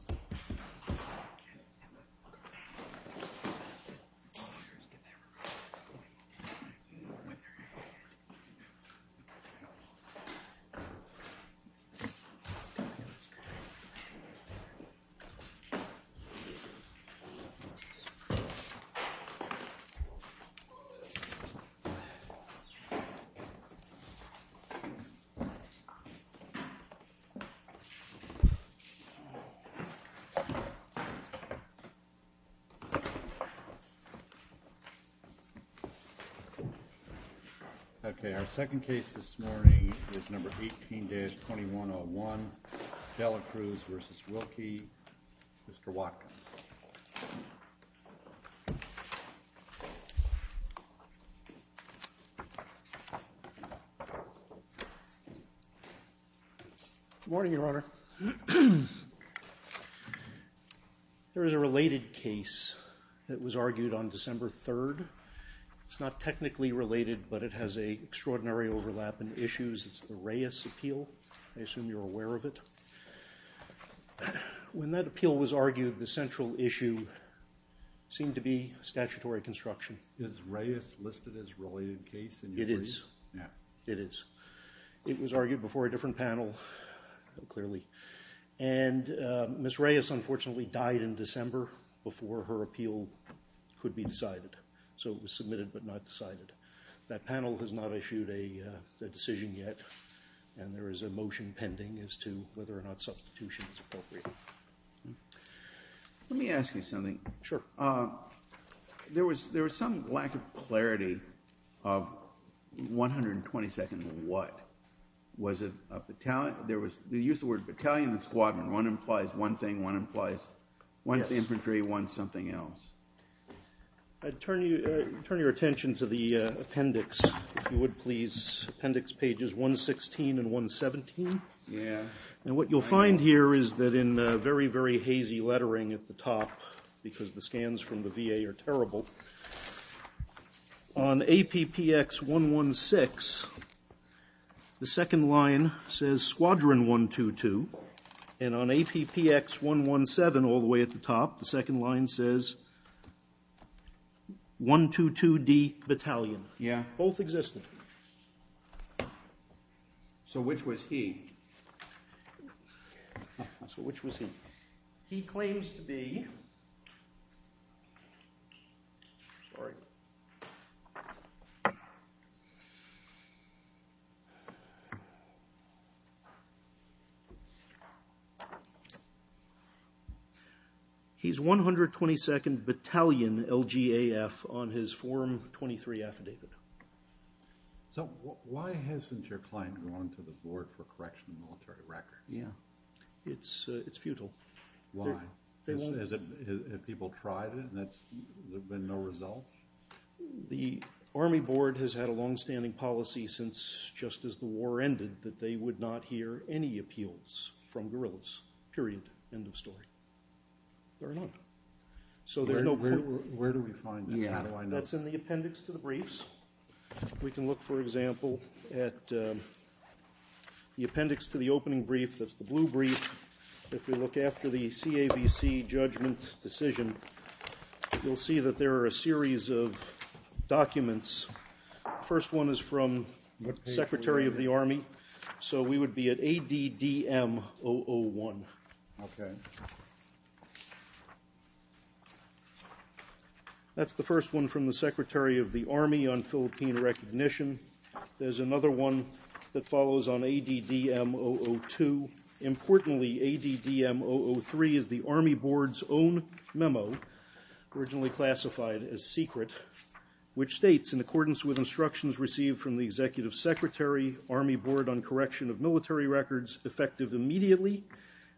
& Mr. Watkins Good morning, Your Honor. There is a related case that was argued on December 3rd. It's not technically related, but it has an extraordinary overlap in issues. It's the Reyes Appeal. I assume you're aware of it. When that appeal was argued, the central issue seemed to be statutory construction. Is Reyes listed as a related case? It is. Yeah. It is. It was argued before a different panel, clearly. And Ms. Reyes, unfortunately, died in December before her appeal could be decided. So it was submitted but not decided. That panel has not issued a decision yet, and there is a motion pending as to whether or not substitution is appropriate. Let me ask you something. Sure. There was some lack of clarity of 122nd what. Was it a battalion? There was the use of the word battalion and squadron. One implies one thing, one implies one's infantry, one's something else. I'd turn your attention to the appendix, if you would, please. Appendix pages 116 and 117. Yeah. And what you'll find here is that in very, very hazy lettering at the top, because the scans from the VA are terrible, on APPX 116, the second line says Squadron 122, and on APPX 117, all the way at the top, the second line says 122D Battalion. Yeah. Both existed. So which was he? So which was he? He claims to be... Sorry. He's 122nd Battalion, LGAF, on his form 23 affidavit. So why hasn't your client gone to the board for correction of military records? Yeah. It's futile. Why? Have people tried it and there's been no result? The Army Board has had a longstanding policy since just as the war ended that they would not hear any appeals from guerrillas, period, end of story. Fair enough. Where do we find that? How do I know? That's in the appendix to the briefs. We can look, for example, at the appendix to the opening brief that's the blue brief. If we look after the CAVC judgment decision, you'll see that there are a series of documents. The first one is from the Secretary of the Army, so we would be at ADDM-001. Okay. That's the first one from the Secretary of the Army on Philippine recognition. There's another one that follows on ADDM-002. Importantly, ADDM-003 is the Army Board's own memo, originally classified as secret, which states, in accordance with instructions received from the Executive Secretary, Army Board on correction of military records effective immediately,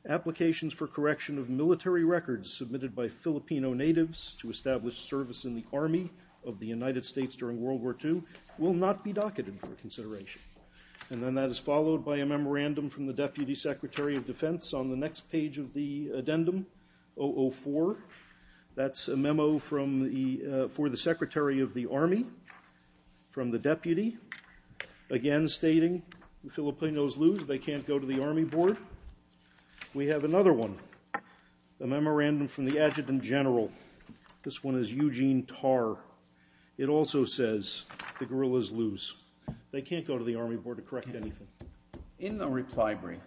applications for correction of military records submitted by Filipino natives to establish service in the Army of the United States during World War II will not be docketed for consideration. And then that is followed by a memorandum from the Deputy Secretary of Defense. On the next page of the addendum, 004, that's a memo for the Secretary of the Army from the Deputy, again stating Filipinos lose. They can't go to the Army Board. We have another one, a memorandum from the Adjutant General. This one is Eugene Tar. It also says the guerrillas lose. They can't go to the Army Board to correct anything. In the reply brief,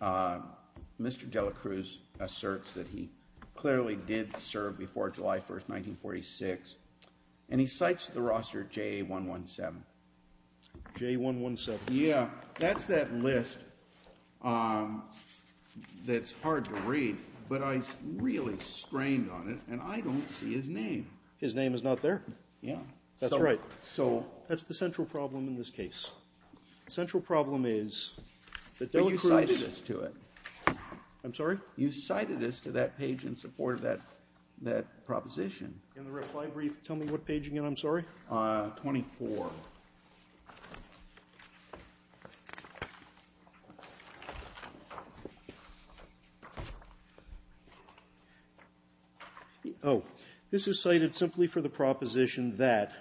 Mr. De La Cruz asserts that he clearly did serve before July 1, 1946, and he cites the roster JA-117. JA-117. Yeah. That's that list that's hard to read, but I really strained on it, and I don't see his name. His name is not there? Yeah. That's right. So that's the central problem in this case. The central problem is that De La Cruz- But you cited us to it. I'm sorry? You cited us to that page in support of that proposition. In the reply brief, tell me what page again, I'm sorry? 24. Oh, this is cited simply for the proposition that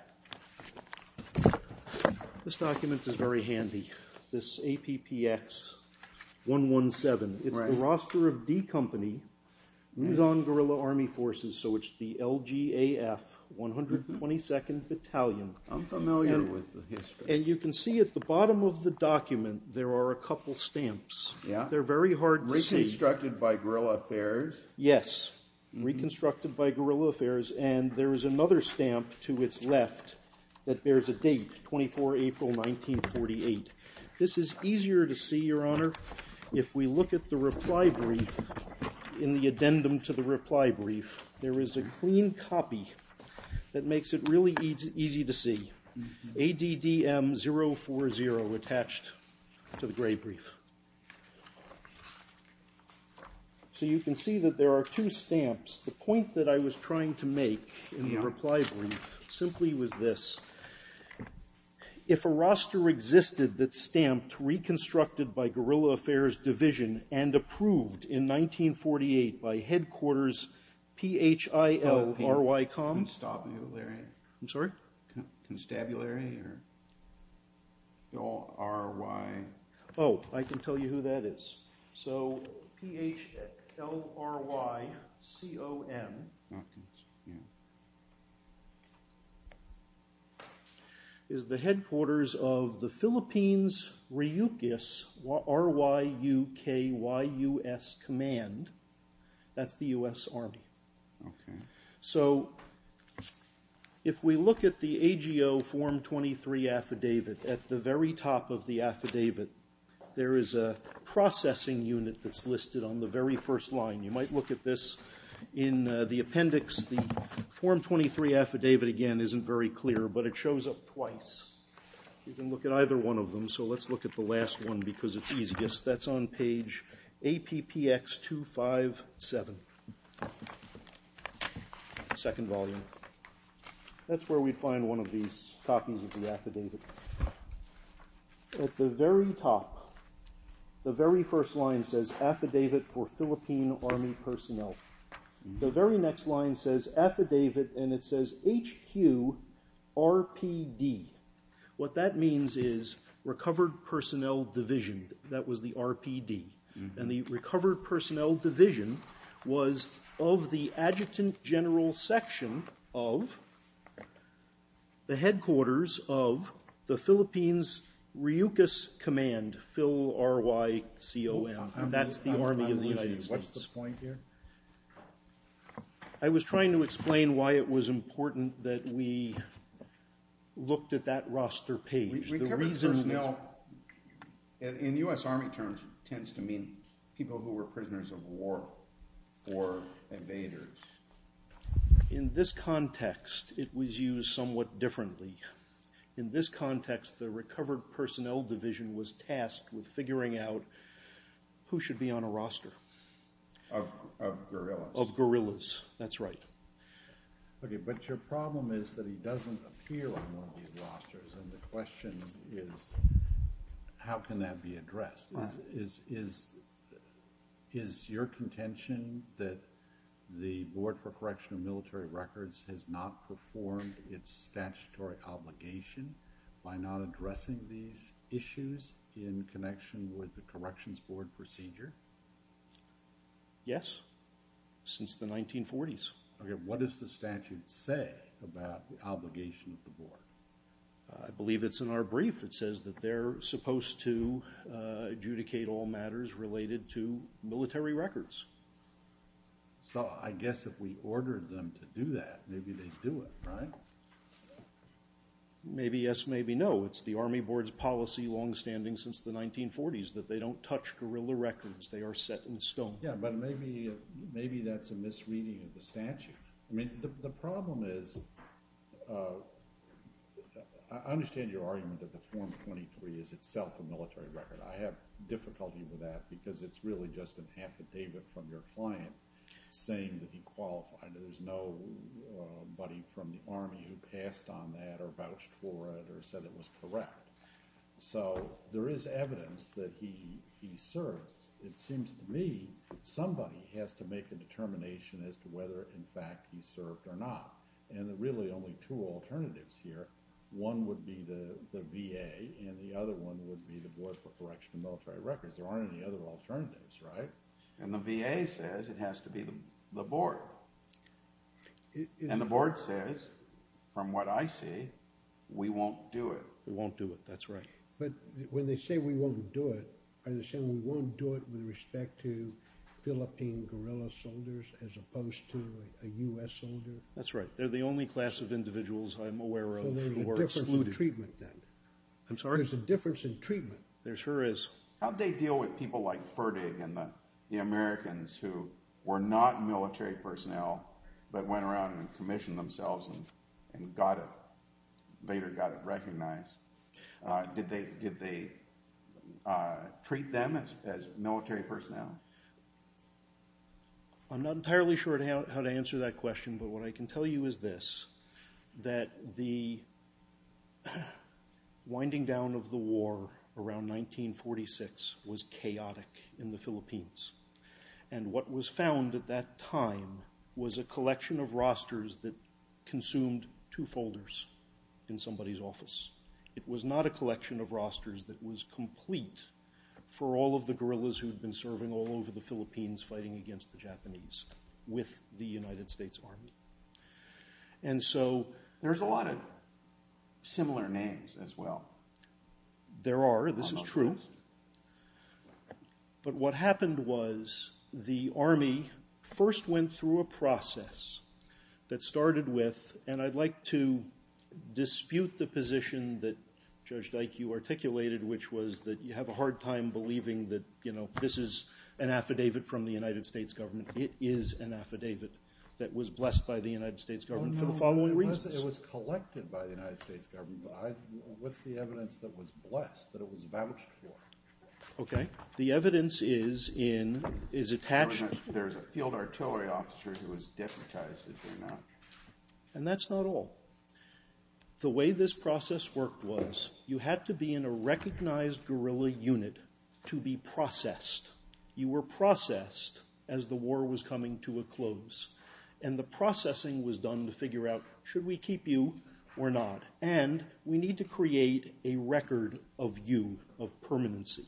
this document is very handy, this APPX-117. It's the roster of D Company Luzon Guerrilla Army Forces, so it's the LGAF 122nd Battalion. I'm familiar with the history. And you can see at the bottom of the document there are a couple stamps. Yeah. They're very hard to see. Reconstructed by Guerrilla Affairs. Yes. Reconstructed by Guerrilla Affairs, and there is another stamp to its left that bears a date, 24 April 1948. This is easier to see, Your Honor, if we look at the reply brief, in the addendum to the reply brief, there is a clean copy that makes it really easy to see. ADDM 040 attached to the gray brief. So you can see that there are two stamps. The point that I was trying to make in the reply brief simply was this. If a roster existed that stamped Reconstructed by Guerrilla Affairs Division and Approved in 1948 by Headquarters P-H-I-L-R-Y-C-O-M. Constabulary. I'm sorry? Constabulary or R-Y. Oh, I can tell you who that is. So P-H-L-R-Y-C-O-M is the headquarters of the Philippines Ryukyus, R-Y-U-K-Y-U-S Command. That's the U.S. Army. Okay. So if we look at the AGO Form 23 affidavit, at the very top of the affidavit, there is a processing unit that's listed on the very first line. You might look at this in the appendix. The Form 23 affidavit, again, isn't very clear, but it shows up twice. You can look at either one of them. So let's look at the last one because it's easiest. That's on page APPX257, second volume. That's where we'd find one of these copies of the affidavit. At the very top, the very first line says, Affidavit for Philippine Army Personnel. The very next line says, Affidavit, and it says H-Q-R-P-D. What that means is Recovered Personnel Division. That was the RPD. And the Recovered Personnel Division was of the Adjutant General Section of the headquarters of the Philippines Ryukyus Command, Phil-R-Y-C-O-M. That's the Army of the United States. What's the point here? I was trying to explain why it was important that we looked at that roster page. Recovered personnel, in U.S. Army terms, tends to mean people who were prisoners of war or invaders. In this context, it was used somewhat differently. In this context, the Recovered Personnel Division was tasked with figuring out who should be on a roster. Of guerrillas. Of guerrillas. That's right. Okay, but your problem is that he doesn't appear on one of these rosters, and the question is, how can that be addressed? Is your contention that the Board for Correctional Military Records has not performed its statutory obligation by not addressing these issues in connection with the Corrections Board procedure? Yes, since the 1940s. Okay, what does the statute say about the obligation of the Board? I believe it's in our brief. It says that they're supposed to adjudicate all matters related to military records. So I guess if we ordered them to do that, maybe they'd do it, right? Maybe yes, maybe no. It's the Army Board's policy, longstanding since the 1940s, that they don't touch guerrilla records. They are set in stone. Yeah, but maybe that's a misreading of the statute. The problem is, I understand your argument that the Form 23 is itself a military record. I have difficulty with that because it's really just an affidavit from your client saying that he qualified. There's nobody from the Army who passed on that or vouched for it or said it was correct. So there is evidence that he serves. It seems to me somebody has to make a determination as to whether, in fact, he served or not. And there are really only two alternatives here. One would be the VA, and the other one would be the Board for Correctional Military Records. There aren't any other alternatives, right? And the VA says it has to be the Board. And the Board says, from what I see, we won't do it. We won't do it, that's right. But when they say we won't do it, are they saying we won't do it with respect to Philippine guerrilla soldiers as opposed to a U.S. soldier? That's right. They're the only class of individuals I'm aware of who are excluded. So there's a difference in treatment then. I'm sorry? There's a difference in treatment. There sure is. How did they deal with people like Ferdig and the Americans who were not military personnel but went around and commissioned themselves and later got it recognized? Did they treat them as military personnel? I'm not entirely sure how to answer that question, but what I can tell you is this, that the winding down of the war around 1946 was chaotic in the Philippines. And what was found at that time was a collection of rosters that consumed two folders in somebody's office. It was not a collection of rosters that was complete for all of the guerrillas who had been serving all over the Philippines fighting against the Japanese with the United States Army. And so there's a lot of similar names as well. There are. This is true. But what happened was the Army first went through a process that started with, and I'd like to dispute the position that Judge Dyke, you articulated, which was that you have a hard time believing that this is an affidavit from the United States government. It is an affidavit that was blessed by the United States government for the following reasons. It was collected by the United States government. What's the evidence that was blessed, that it was vouched for? Okay. The evidence is attached. There's a field artillery officer who was deputized, if you know. And that's not all. The way this process worked was you had to be in a recognized guerrilla unit to be processed. You were processed as the war was coming to a close. And the processing was done to figure out should we keep you or not? And we need to create a record of you, of permanency.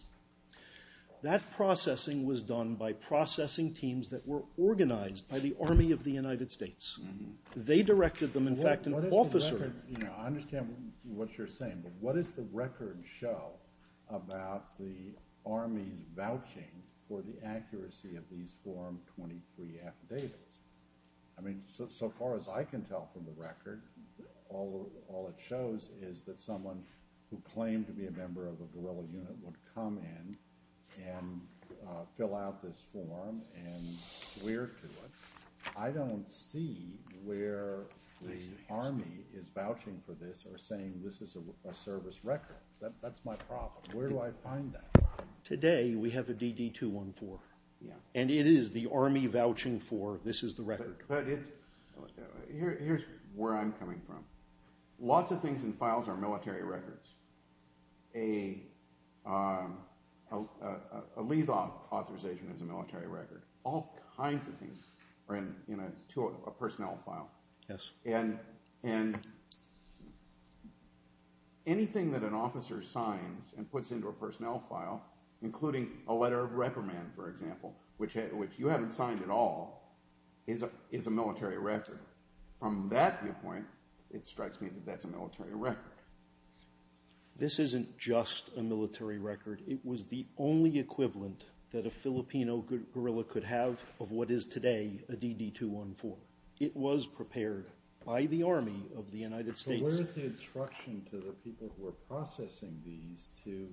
That processing was done by processing teams that were organized by the Army of the United States. They directed them. In fact, an officer. I understand what you're saying. But what does the record show about the Army's vouching for the accuracy of these Form 23 affidavits? I mean, so far as I can tell from the record, all it shows is that someone who claimed to be a member of a guerrilla unit would come in and fill out this form and swear to it. I don't see where the Army is vouching for this or saying this is a service record. That's my problem. Where do I find that? Today we have a DD-214. And it is the Army vouching for this is the record. Here's where I'm coming from. Lots of things in files are military records. A lethal authorization is a military record. All kinds of things are in a personnel file. Yes. And anything that an officer signs and puts into a personnel file, including a letter of reprimand, for example, which you haven't signed at all, is a military record. From that viewpoint, it strikes me that that's a military record. This isn't just a military record. It was the only equivalent that a Filipino guerrilla could have of what is today a DD-214. It was prepared by the Army of the United States. So where is the instruction to the people who are processing these to,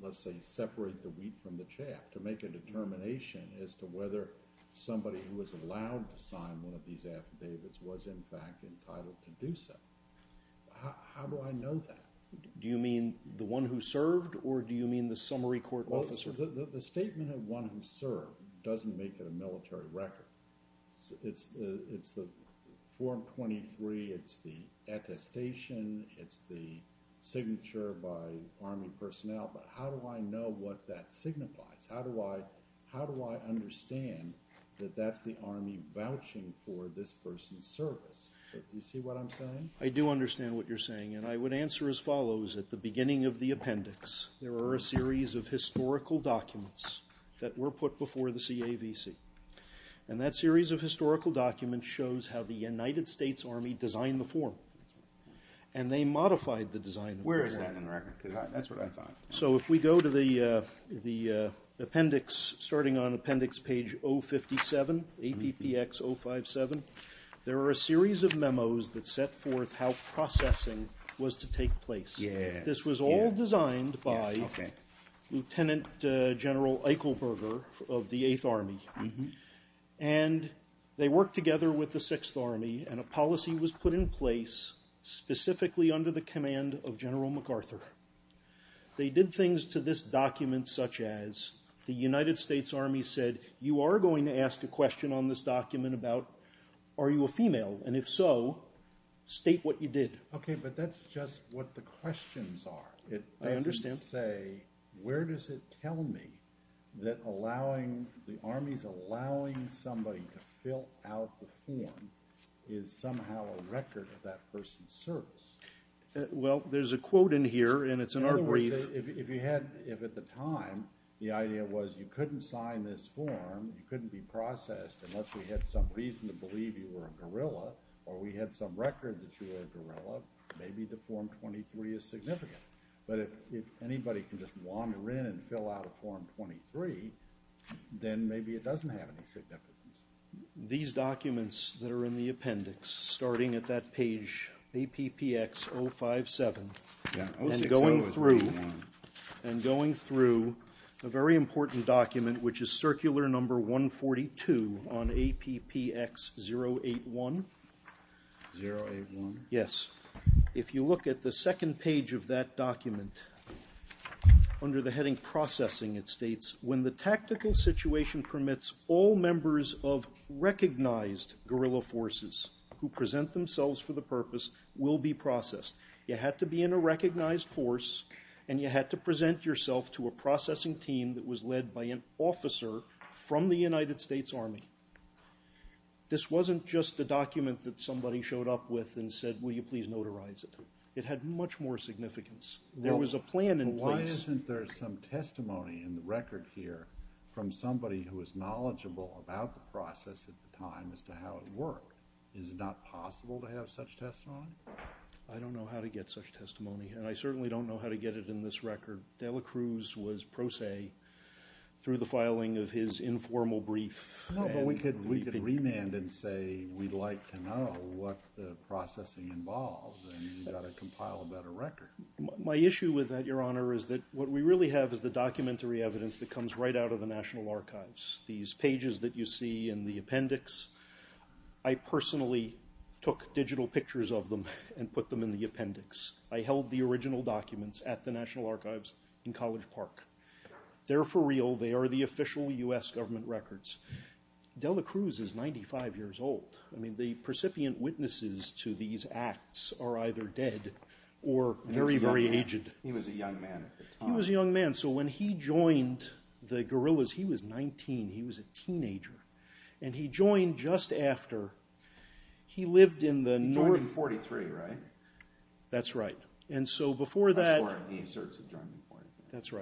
let's say, separate the wheat from the chaff, to make a determination as to whether somebody who was allowed to sign one of these affidavits was in fact entitled to do so? How do I know that? Do you mean the one who served, or do you mean the summary court officer? The statement of one who served doesn't make it a military record. It's the Form 23. It's the attestation. It's the signature by Army personnel. But how do I know what that signifies? How do I understand that that's the Army vouching for this person's service? I do understand what you're saying. And I would answer as follows. At the beginning of the appendix, there are a series of historical documents that were put before the CAVC. And that series of historical documents shows how the United States Army designed the form. And they modified the design of the form. Where is that in the record? That's what I thought. So if we go to the appendix, starting on appendix page 057, APPX 057, there are a series of memos that set forth how processing was to take place. This was all designed by Lieutenant General Eichelberger of the Eighth Army. And they worked together with the Sixth Army, and a policy was put in place specifically under the command of General MacArthur. They did things to this document such as, the United States Army said, you are going to ask a question on this document about, are you a female? And if so, state what you did. Okay, but that's just what the questions are. I understand. It doesn't say, where does it tell me that allowing, the Army's allowing somebody to fill out the form is somehow a record of that person's service? Well, there's a quote in here, and it's in our brief. In other words, if at the time, the idea was you couldn't sign this form, you couldn't be processed, unless we had some reason to believe you were a gorilla, or we had some record that you were a gorilla, maybe the form 23 is significant. But if anybody can just wander in and fill out a form 23, then maybe it doesn't have any significance. These documents that are in the appendix, starting at that page, APPX 057, and going through a very important document, which is circular number 142 on APPX 081. 081? Yes. If you look at the second page of that document, under the heading processing it states, when the tactical situation permits, all members of recognized gorilla forces who present themselves for the purpose will be processed. You had to be in a recognized force, and you had to present yourself to a processing team that was led by an officer from the United States Army. This wasn't just a document that somebody showed up with and said, will you please notarize it. It had much more significance. There was a plan in place. Isn't there some testimony in the record here from somebody who was knowledgeable about the process at the time as to how it worked? Is it not possible to have such testimony? I don't know how to get such testimony, and I certainly don't know how to get it in this record. De La Cruz was pro se through the filing of his informal brief. No, but we could remand and say we'd like to know what the processing involves, and you've got to compile a better record. My issue with that, Your Honor, is that what we really have is the documentary evidence that comes right out of the National Archives. These pages that you see in the appendix, I personally took digital pictures of them and put them in the appendix. I held the original documents at the National Archives in College Park. They're for real. They are the official U.S. government records. De La Cruz is 95 years old. I mean, the precipient witnesses to these acts are either dead or very, very aged. He was a young man at the time. He was a young man. So when he joined the guerrillas, he was 19. He was a teenager. And he joined just after. He lived in the north. He joined in 1943, right? That's right. And so before that. That's where he asserts he joined in 1943. That's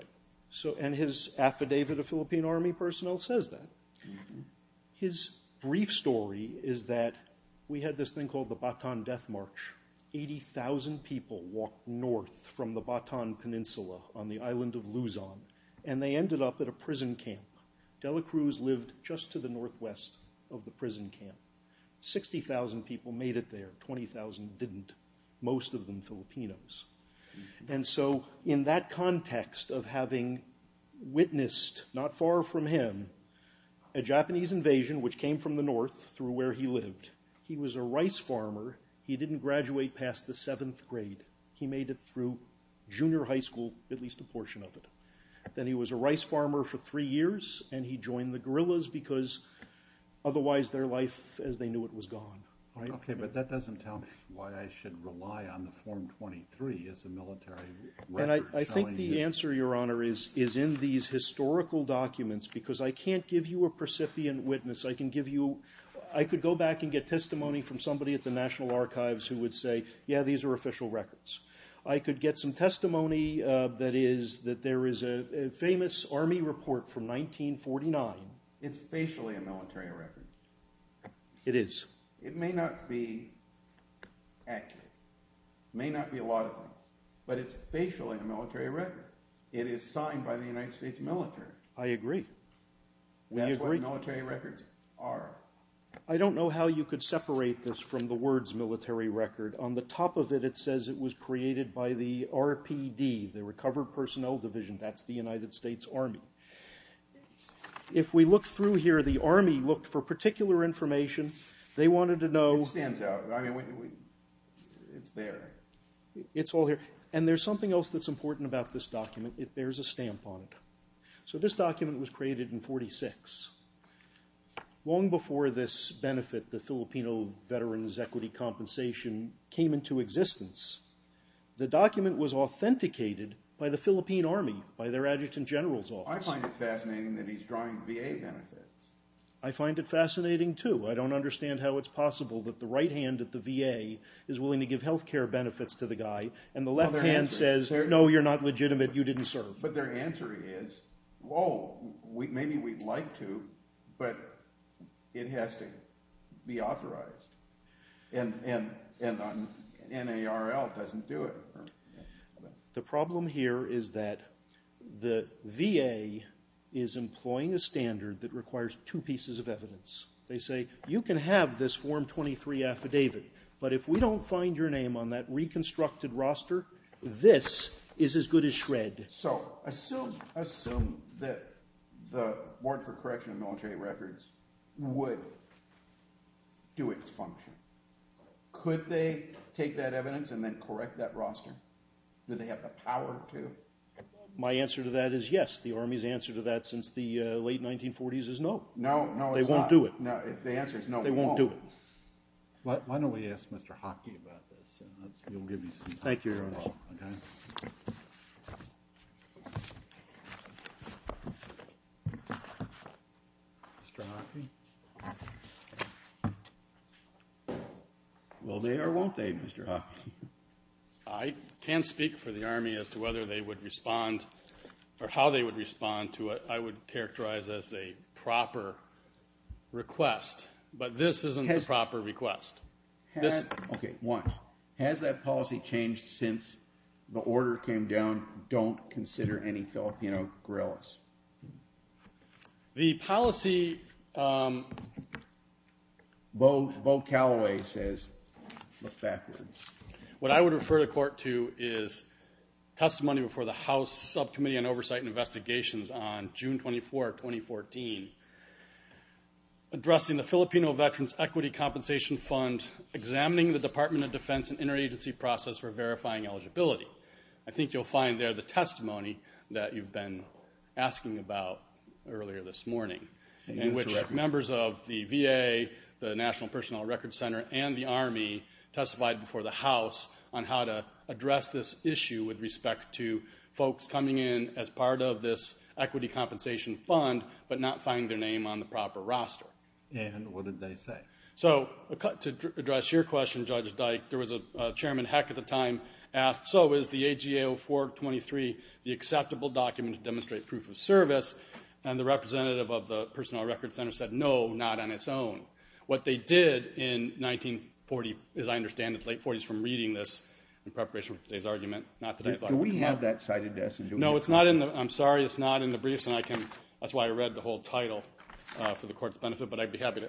right. And his affidavit of Philippine Army personnel says that. His brief story is that we had this thing called the Bataan Death March. 80,000 people walked north from the Bataan Peninsula on the island of Luzon. And they ended up at a prison camp. De La Cruz lived just to the northwest of the prison camp. 60,000 people made it there. 20,000 didn't. Most of them Filipinos. And so in that context of having witnessed, not far from him, a Japanese invasion which came from the north through where he lived. He was a rice farmer. He didn't graduate past the seventh grade. He made it through junior high school, at least a portion of it. Then he was a rice farmer for three years, and he joined the guerrillas because otherwise their life, as they knew it, was gone. Okay, but that doesn't tell me why I should rely on the Form 23 as a military record. I think the answer, Your Honor, is in these historical documents because I can't give you a percipient witness. I could go back and get testimony from somebody at the National Archives who would say, yeah, these are official records. I could get some testimony that there is a famous Army report from 1949. It's facially a military record. It is. It may not be accurate. It may not be a lot of things, but it's facially a military record. It is signed by the United States military. I agree. That's what military records are. I don't know how you could separate this from the words military record. On the top of it, it says it was created by the RPD, the Recovered Personnel Division. That's the United States Army. If we look through here, the Army looked for particular information. They wanted to know. It stands out. I mean, it's there. It's all here. And there's something else that's important about this document. There's a stamp on it. So this document was created in 1946, long before this benefit, the Filipino Veterans Equity Compensation, came into existence. The document was authenticated by the Philippine Army, by their Adjutant General's Office. I find it fascinating that he's drawing VA benefits. I find it fascinating, too. I don't understand how it's possible that the right hand at the VA is willing to give health care benefits to the guy and the left hand says, no, you're not legitimate, you didn't serve. But their answer is, whoa, maybe we'd like to, but it has to be authorized. And NARL doesn't do it. The problem here is that the VA is employing a standard that requires two pieces of evidence. They say, you can have this Form 23 affidavit, but if we don't find your name on that reconstructed roster, this is as good as shred. So assume that the Board for Correction of Military Records would do its function. Could they take that evidence and then correct that roster? Do they have the power to? My answer to that is yes. The Army's answer to that since the late 1940s is no. No, it's not. They won't do it. The answer is no, they won't. They won't do it. Why don't we ask Mr. Hockey about this? Thank you, Your Honor. Mr. Hockey? Will they or won't they, Mr. Hockey? I can't speak for the Army as to whether they would respond or how they would respond to it. I would characterize it as a proper request. But this isn't a proper request. Okay, one, has that policy changed since the order came down, don't consider any Filipino guerrillas? The policy... Beau Calloway says, look backwards. What I would refer the Court to is testimony before the House Subcommittee on Oversight and Investigations on June 24, 2014, addressing the Filipino Veterans Equity Compensation Fund, examining the Department of Defense and interagency process for verifying eligibility. I think you'll find there the testimony that you've been asking about earlier this morning, in which members of the VA, the National Personnel Records Center, and the Army testified before the House on how to address this issue with respect to folks coming in as part of this equity compensation fund but not finding their name on the proper roster. And what did they say? So to address your question, Judge Dyke, there was a chairman, Heck, at the time, asked, so is the AGA-0423 the acceptable document to demonstrate proof of service? And the representative of the Personnel Records Center said, no, not on its own. What they did in 1940, as I understand it, late 40s from reading this in preparation for today's argument, not that I thought it was wrong. Do we have that cited to us? No, I'm sorry, it's not in the briefs, and that's why I read the whole title for the Court's benefit, but I'd be happy to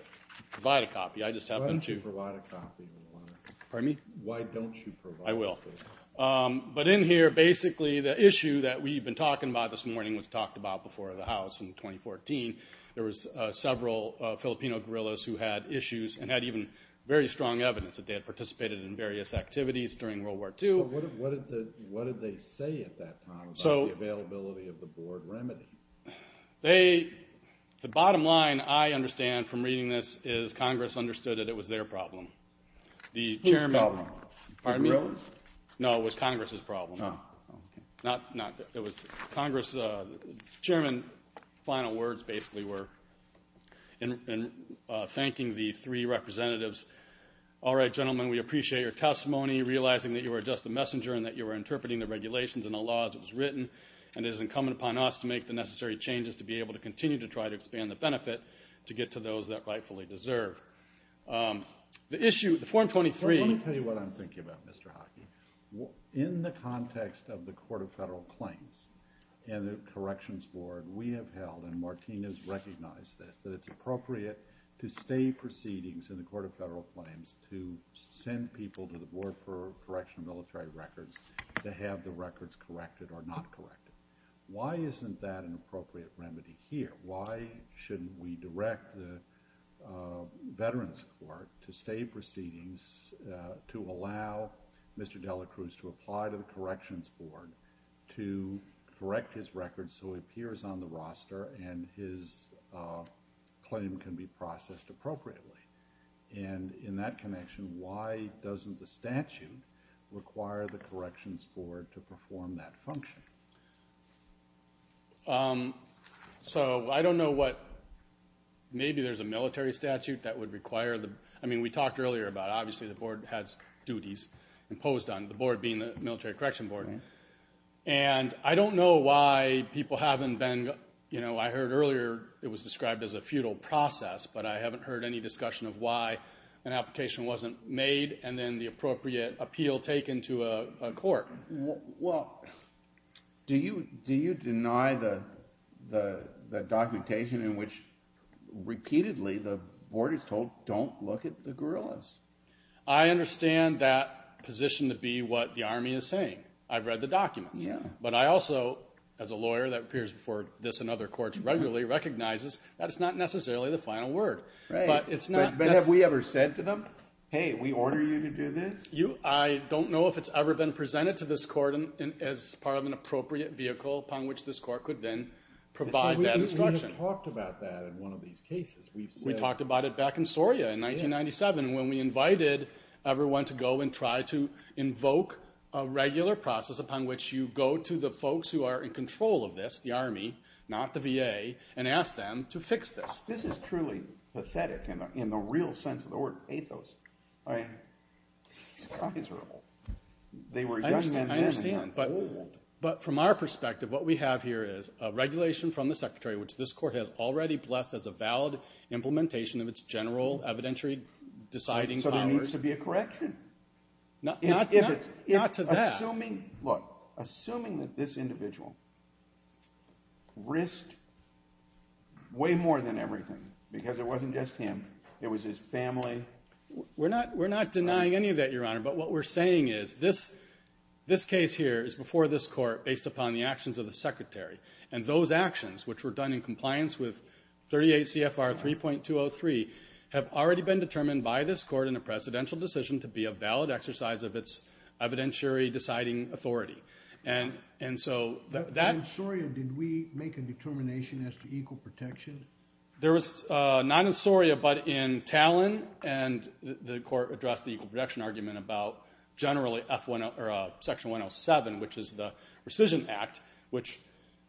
provide a copy. Why don't you provide a copy? Pardon me? Why don't you provide a copy? I will. But in here, basically, the issue that we've been talking about this morning was talked about before the House in 2014. There was several Filipino guerrillas who had issues and had even very strong evidence that they had participated in various activities during World War II. So what did they say at that time about the availability of the board remedy? The bottom line, I understand from reading this, is Congress understood that it was their problem. Whose problem? The guerrillas? No, it was Congress's problem. No. It was Congress. Chairman, final words, basically, were thanking the three representatives. All right, gentlemen, we appreciate your testimony, realizing that you are just a messenger and that you are interpreting the regulations and the laws as it was written, and it is incumbent upon us to make the necessary changes to be able to continue to try to expand the benefit to get to those that rightfully deserve. The issue, the Form 23 – Let me tell you what I'm thinking about, Mr. Hockey. In the context of the Court of Federal Claims and the Corrections Board, we have held, and Martinez recognized this, that it's appropriate to stay proceedings in the Court of Federal Claims to send people to the Board for Correctional Military Records to have the records corrected or not corrected. Why isn't that an appropriate remedy here? Why shouldn't we direct the Veterans Court to stay proceedings, to allow Mr. Dela Cruz to apply to the Corrections Board to correct his records so he appears on the roster and his claim can be processed appropriately? And in that connection, why doesn't the statute require the Corrections Board to perform that function? So I don't know what – maybe there's a military statute that would require the – I mean, we talked earlier about, obviously, the Board has duties imposed on it, the Board being the Military Correction Board. And I don't know why people haven't been – I heard earlier it was described as a futile process, but I haven't heard any discussion of why an application wasn't made and then the appropriate appeal taken to a court. Well, do you deny the documentation in which repeatedly the Board is told, don't look at the guerrillas? I understand that position to be what the Army is saying. I've read the documents. But I also, as a lawyer that appears before this and other courts regularly, recognizes that it's not necessarily the final word. But it's not – But have we ever said to them, hey, we order you to do this? I don't know if it's ever been presented to this court as part of an appropriate vehicle upon which this court could then provide that instruction. We have talked about that in one of these cases. We've said – We talked about it back in Soria in 1997 when we invited everyone to go and try to invoke a regular process upon which you go to the folks who are in control of this, the Army, not the VA, and ask them to fix this. This is truly pathetic in the real sense of the word, athos. These guys are old. They were just – I understand. But from our perspective, what we have here is a regulation from the Secretary which this court has already blessed as a valid implementation of its general evidentiary deciding powers. There's to be a correction. Not to that. Assuming – look, assuming that this individual risked way more than everything, because it wasn't just him, it was his family. We're not denying any of that, Your Honor. But what we're saying is this case here is before this court based upon the actions of the Secretary. And those actions, which were done in compliance with 38 CFR 3.203, have already been determined by this court in a presidential decision to be a valid exercise of its evidentiary deciding authority. And so that – In Soria, did we make a determination as to equal protection? There was not in Soria, but in Talon, and the court addressed the equal protection argument about generally Section 107, which is the rescission act, which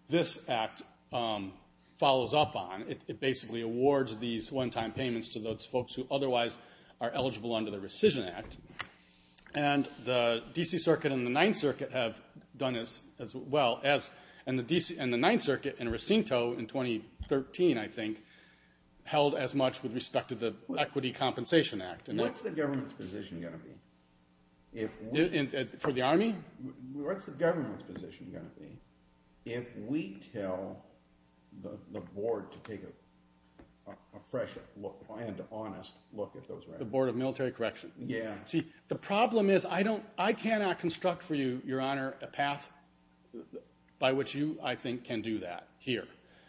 this act follows up on. It basically awards these one-time payments to those folks who otherwise are eligible under the rescission act. And the D.C. Circuit and the Ninth Circuit have done as well. And the Ninth Circuit in Racinto in 2013, I think, held as much with respect to the Equity Compensation Act. What's the government's position going to be? For the Army? What's the government's position going to be if we tell the Board to take a fresh look and honest look at those records? The Board of Military Correction? Yeah. See, the problem is I cannot construct for you, Your Honor, a path by which you, I think, can do that here.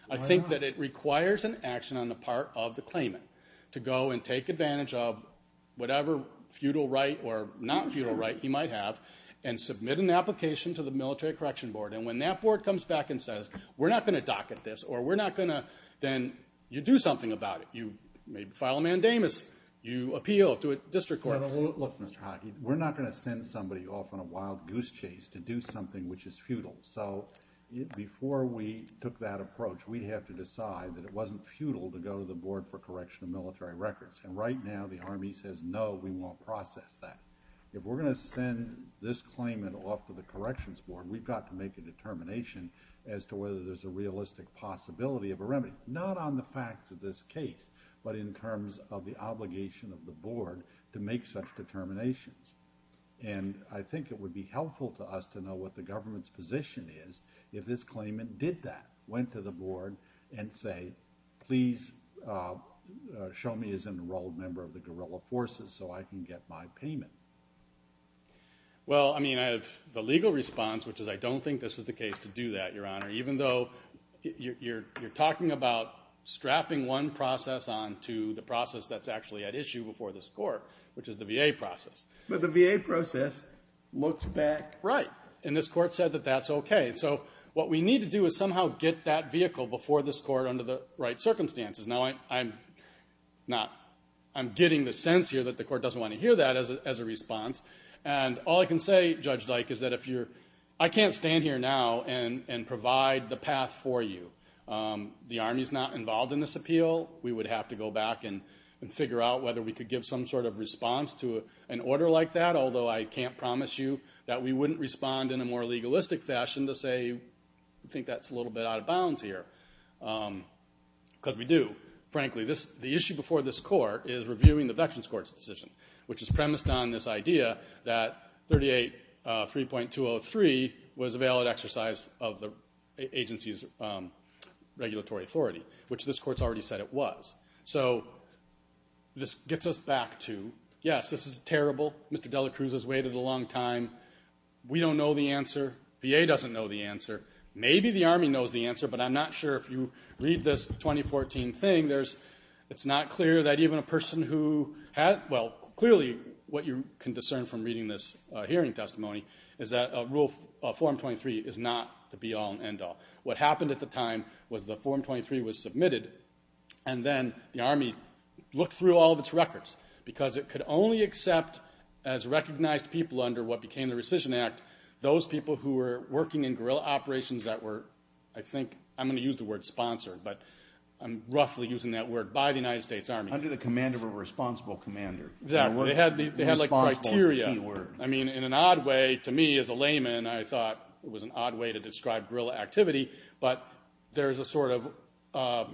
I think that it requires an action on the part of the claimant to go and take advantage of whatever feudal right or not feudal right he might have and submit an application to the Military Correction Board. And when that board comes back and says, we're not going to dock at this or we're not going to, then you do something about it. You file a mandamus. You appeal to a district court. Look, Mr. Hockey, we're not going to send somebody off on a wild goose chase to do something which is feudal. So before we took that approach, we'd have to decide that it wasn't feudal to go to the Board for Correction of Military Records. And right now the Army says, no, we won't process that. If we're going to send this claimant off to the Corrections Board, we've got to make a determination as to whether there's a realistic possibility of a remedy, not on the facts of this case, but in terms of the obligation of the Board to make such determinations. And I think it would be helpful to us to know what the government's position is if this claimant did that, went to the Board and said, please show me as an enrolled member of the guerrilla forces so I can get my payment. Well, I mean, I have the legal response, which is I don't think this is the case to do that, Your Honor, even though you're talking about strapping one process on to the process that's actually at issue before this Court, which is the VA process. But the VA process looks back... Right, and this Court said that that's okay. So what we need to do is somehow get that vehicle before this Court under the right circumstances. Now, I'm getting the sense here that the Court doesn't want to hear that as a response, and all I can say, Judge Dyke, is that if you're... I can't stand here now and provide the path for you. The Army's not involved in this appeal. We would have to go back and figure out whether we could give some sort of response to an order like that, although I can't promise you that we wouldn't respond in a more legalistic fashion to say, I think that's a little bit out of bounds here. Because we do, frankly. The issue before this Court is reviewing the Veterans Court's decision, which is premised on this idea that 38.303 was a valid exercise of the agency's regulatory authority, which this Court's already said it was. So this gets us back to, yes, this is terrible. Mr. Dela Cruz has waited a long time. We don't know the answer. VA doesn't know the answer. Maybe the Army knows the answer, but I'm not sure. If you read this 2014 thing, it's not clear that even a person who had... Well, clearly what you can discern from reading this hearing testimony is that a rule of Form 23 is not the be-all and end-all. What happened at the time was that Form 23 was submitted, and then the Army looked through all of its records because it could only accept as recognized people under what became the Rescission Act, those people who were working in guerrilla operations that were, I think, I'm going to use the word sponsored, but I'm roughly using that word, by the United States Army. Under the command of a responsible commander. Exactly. They had, like, criteria. Responsible is a T word. I mean, in an odd way, to me, as a layman, I thought it was an odd way to describe guerrilla activity, but there's a sort of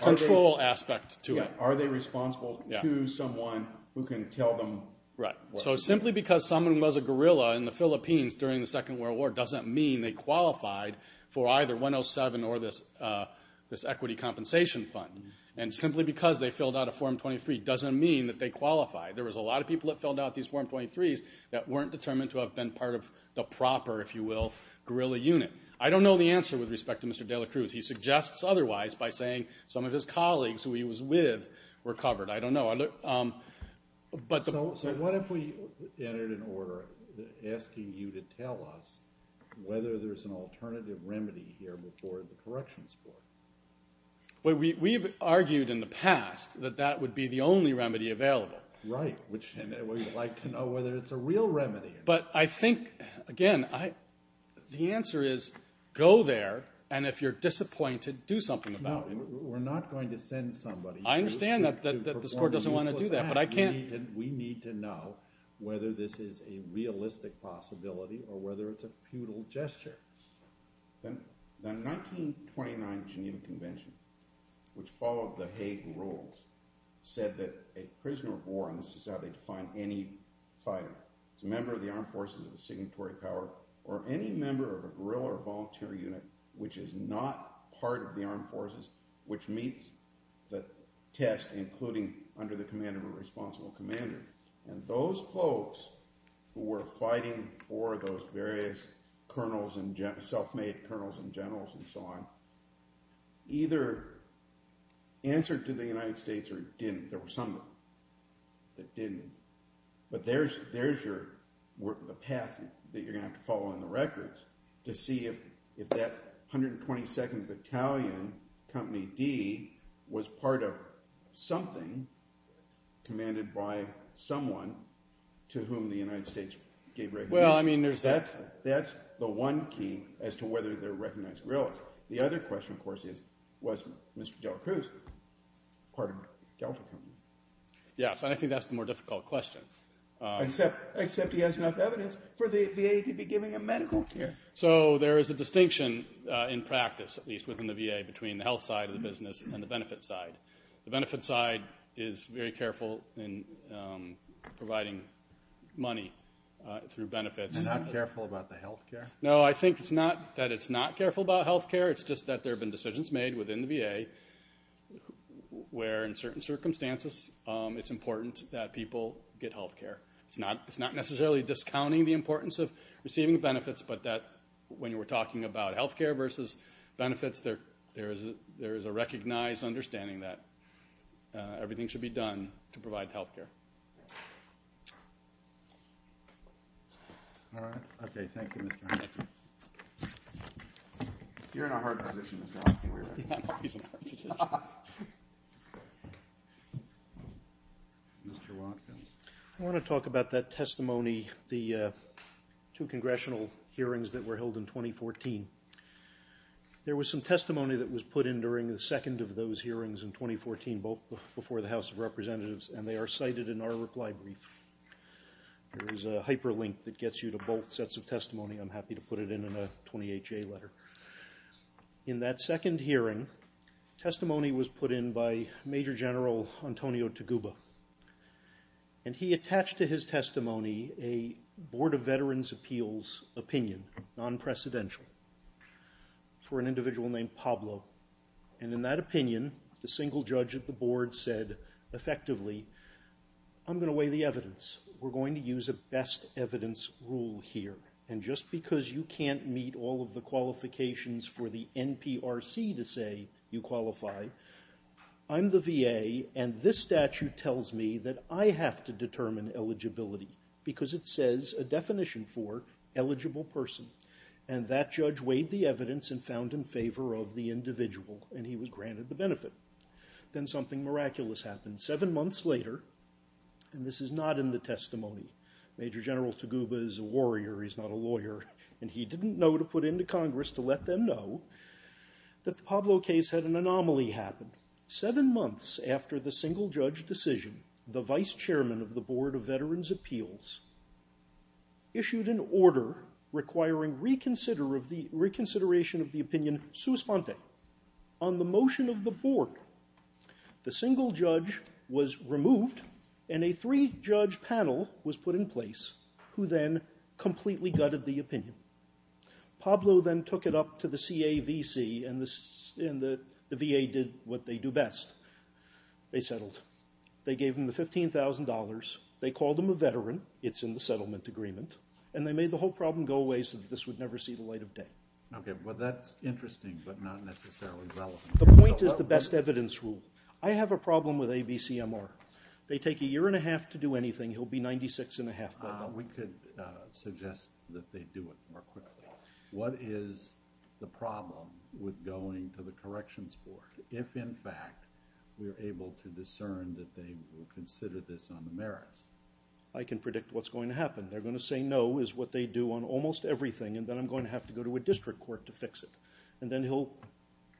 control aspect to it. Are they responsible to someone who can tell them what to do? Right. So simply because someone was a guerrilla in the Philippines during the Second World War doesn't mean they qualified for either 107 or this equity compensation fund. And simply because they filled out a Form 23 doesn't mean that they qualify. There was a lot of people that filled out these Form 23s that weren't determined to have been part of the proper, if you will, guerrilla unit. I don't know the answer with respect to Mr. de la Cruz. He suggests otherwise by saying some of his colleagues, who he was with, were covered. I don't know. So what if we entered an order asking you to tell us whether there's an alternative remedy here before the corrections board? We've argued in the past that that would be the only remedy available. Right. We'd like to know whether it's a real remedy. But I think, again, the answer is go there, and if you're disappointed, do something about it. No, we're not going to send somebody to perform a useless act. I understand that this court doesn't want to do that, but I can't. We need to know whether this is a realistic possibility or whether it's a futile gesture. The 1929 Geneva Convention, which followed the Hague rules, said that a prisoner of war, and this is how they define any fighter, is a member of the armed forces of a signatory power or any member of a guerrilla or volunteer unit which is not part of the armed forces, which meets the test, including under the command of a responsible commander. And those folks who were fighting for those various colonels and self-made colonels and generals and so on either answered to the United States or didn't. There were some that didn't. But there's the path that you're going to have to follow in the records to see if that 122nd Battalion, Company D, was part of something commanded by someone to whom the United States gave recognition. That's the one key as to whether they're recognized guerrillas. The other question, of course, is was Mr. Delacruz part of Delta Company? Yes, and I think that's the more difficult question. Except he has enough evidence for the VA to be giving him medical care. and the benefit side. The benefit side is very careful in providing money through benefits. They're not careful about the health care? No, I think it's not that it's not careful about health care. It's just that there have been decisions made within the VA where in certain circumstances it's important that people get health care. It's not necessarily discounting the importance of receiving benefits, but that when you were talking about health care versus benefits, there is a recognized understanding that everything should be done to provide health care. I want to talk about that testimony, the two congressional hearings that were held in 2014. There was some testimony that was put in during the second of those hearings in 2014, both before the House of Representatives, and they are cited in our reply brief. There is a hyperlink that gets you to both sets of testimony. I'm happy to put it in a 28-J letter. In that second hearing, testimony was put in by Major General Antonio Toguba, and he attached to his testimony a Board of Veterans' Appeals opinion, non-precedential, for an individual named Pablo. In that opinion, the single judge at the board said effectively, I'm going to weigh the evidence. We're going to use a best evidence rule here, and just because you can't meet all of the qualifications for the NPRC to say you qualify, I'm the VA, and this statute tells me that I have to determine eligibility because it says a definition for eligible person, and that judge weighed the evidence and found in favor of the individual, and he was granted the benefit. Then something miraculous happened. Seven months later, and this is not in the testimony, Major General Toguba is a warrior, he's not a lawyer, and he didn't know to put into Congress to let them know that the Pablo case had an anomaly happen. Seven months after the single judge decision, the vice chairman of the Board of Veterans' Appeals issued an order requiring reconsideration of the opinion sua sponte. On the motion of the board, the single judge was removed, and a three-judge panel was put in place who then completely gutted the opinion. Pablo then took it up to the CAVC, and the VA did what they do best. They settled. They gave him the $15,000. They called him a veteran. It's in the settlement agreement, and they made the whole problem go away so that this would never see the light of day. Okay, well, that's interesting but not necessarily relevant. The point is the best evidence rule. I have a problem with ABCMR. They take a year and a half to do anything. He'll be 96 and a half by then. We could suggest that they do it more quickly. What is the problem with going to the corrections board if, in fact, we're able to discern that they will consider this on the merits? I can predict what's going to happen. They're going to say no is what they do on almost everything, and then I'm going to have to go to a district court to fix it, and then he'll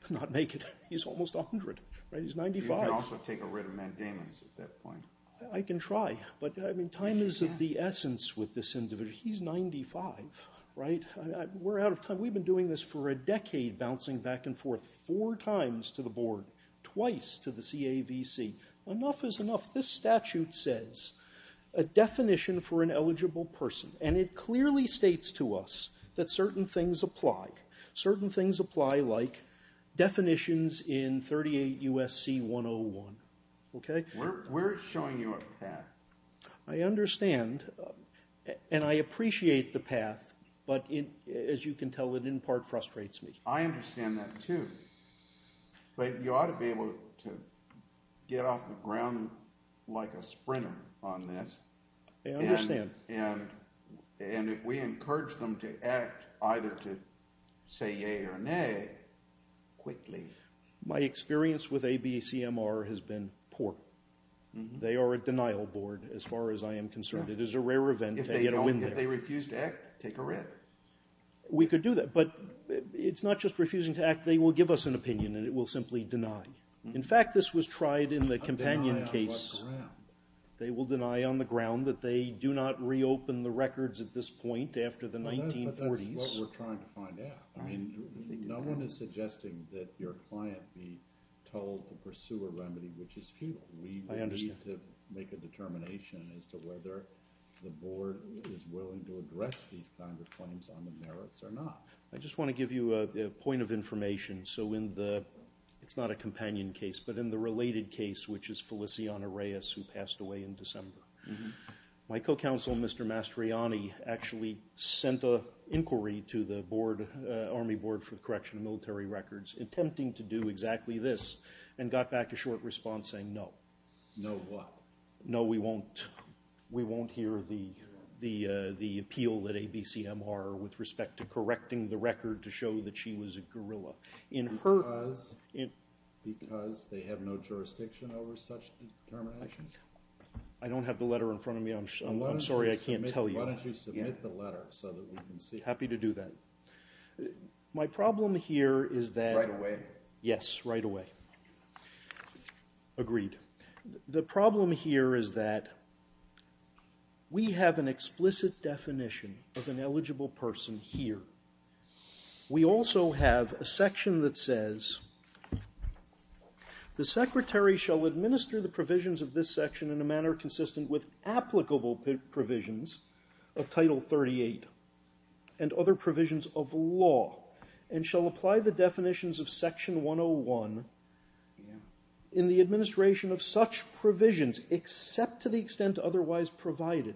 not make it. He's almost 100, right? He's 95. You can also take a writ of mandamens at that point. I can try. But time is of the essence with this individual. He's 95, right? We're out of time. We've been doing this for a decade, bouncing back and forth four times to the board, twice to the CAVC. Enough is enough. This statute says a definition for an eligible person, and it clearly states to us that certain things apply. Certain things apply like definitions in 38 U.S.C. 101. Okay? We're showing you a path. I understand, and I appreciate the path, but as you can tell, it in part frustrates me. I understand that too. But you ought to be able to get off the ground like a sprinter on this. I understand. And if we encourage them to act either to say yay or nay quickly. My experience with ABCMR has been poor. They are a denial board as far as I am concerned. It is a rare event to get a win there. If they refuse to act, take a writ. We could do that. But it's not just refusing to act. They will give us an opinion, and it will simply deny. In fact, this was tried in the companion case. A denial on what ground? They will deny on the ground that they do not reopen the records at this point after the 1940s. But that's what we're trying to find out. No one is suggesting that your client be told to pursue a remedy which is futile. I understand. We need to make a determination as to whether the board is willing to address these kinds of claims on the merits or not. I just want to give you a point of information. It's not a companion case, but in the related case, which is Feliciano Reyes, who passed away in December, my co-counsel, Mr. Mastriani, actually sent an inquiry to the Army Board for the Correction of Military Records, attempting to do exactly this, and got back a short response saying no. No what? No, we won't hear the appeal at ABCMR with respect to correcting the record to show that she was a guerrilla. Because they have no jurisdiction over such determination? I don't have the letter in front of me. I'm sorry, I can't tell you. Why don't you submit the letter so that we can see it? Happy to do that. My problem here is that… Right away? Yes, right away. Agreed. The problem here is that we have an explicit definition of an eligible person here. We also have a section that says, the Secretary shall administer the provisions of this section in a manner consistent with applicable provisions of Title 38 and other provisions of law, and shall apply the definitions of Section 101 in the administration of such provisions, except to the extent otherwise provided.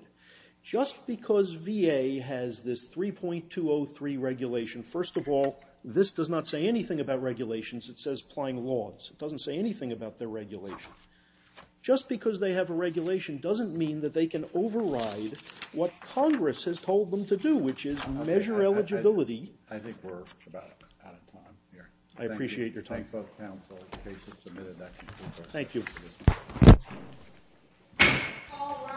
Just because VA has this 3.203 regulation, first of all, this does not say anything about regulations. It says applying laws. It doesn't say anything about their regulation. Just because they have a regulation doesn't mean that they can override what Congress has told them to do, which is measure eligibility. I think we're about out of time here. I appreciate your time. Thank both counsel. Case is submitted. Thank you. All rise.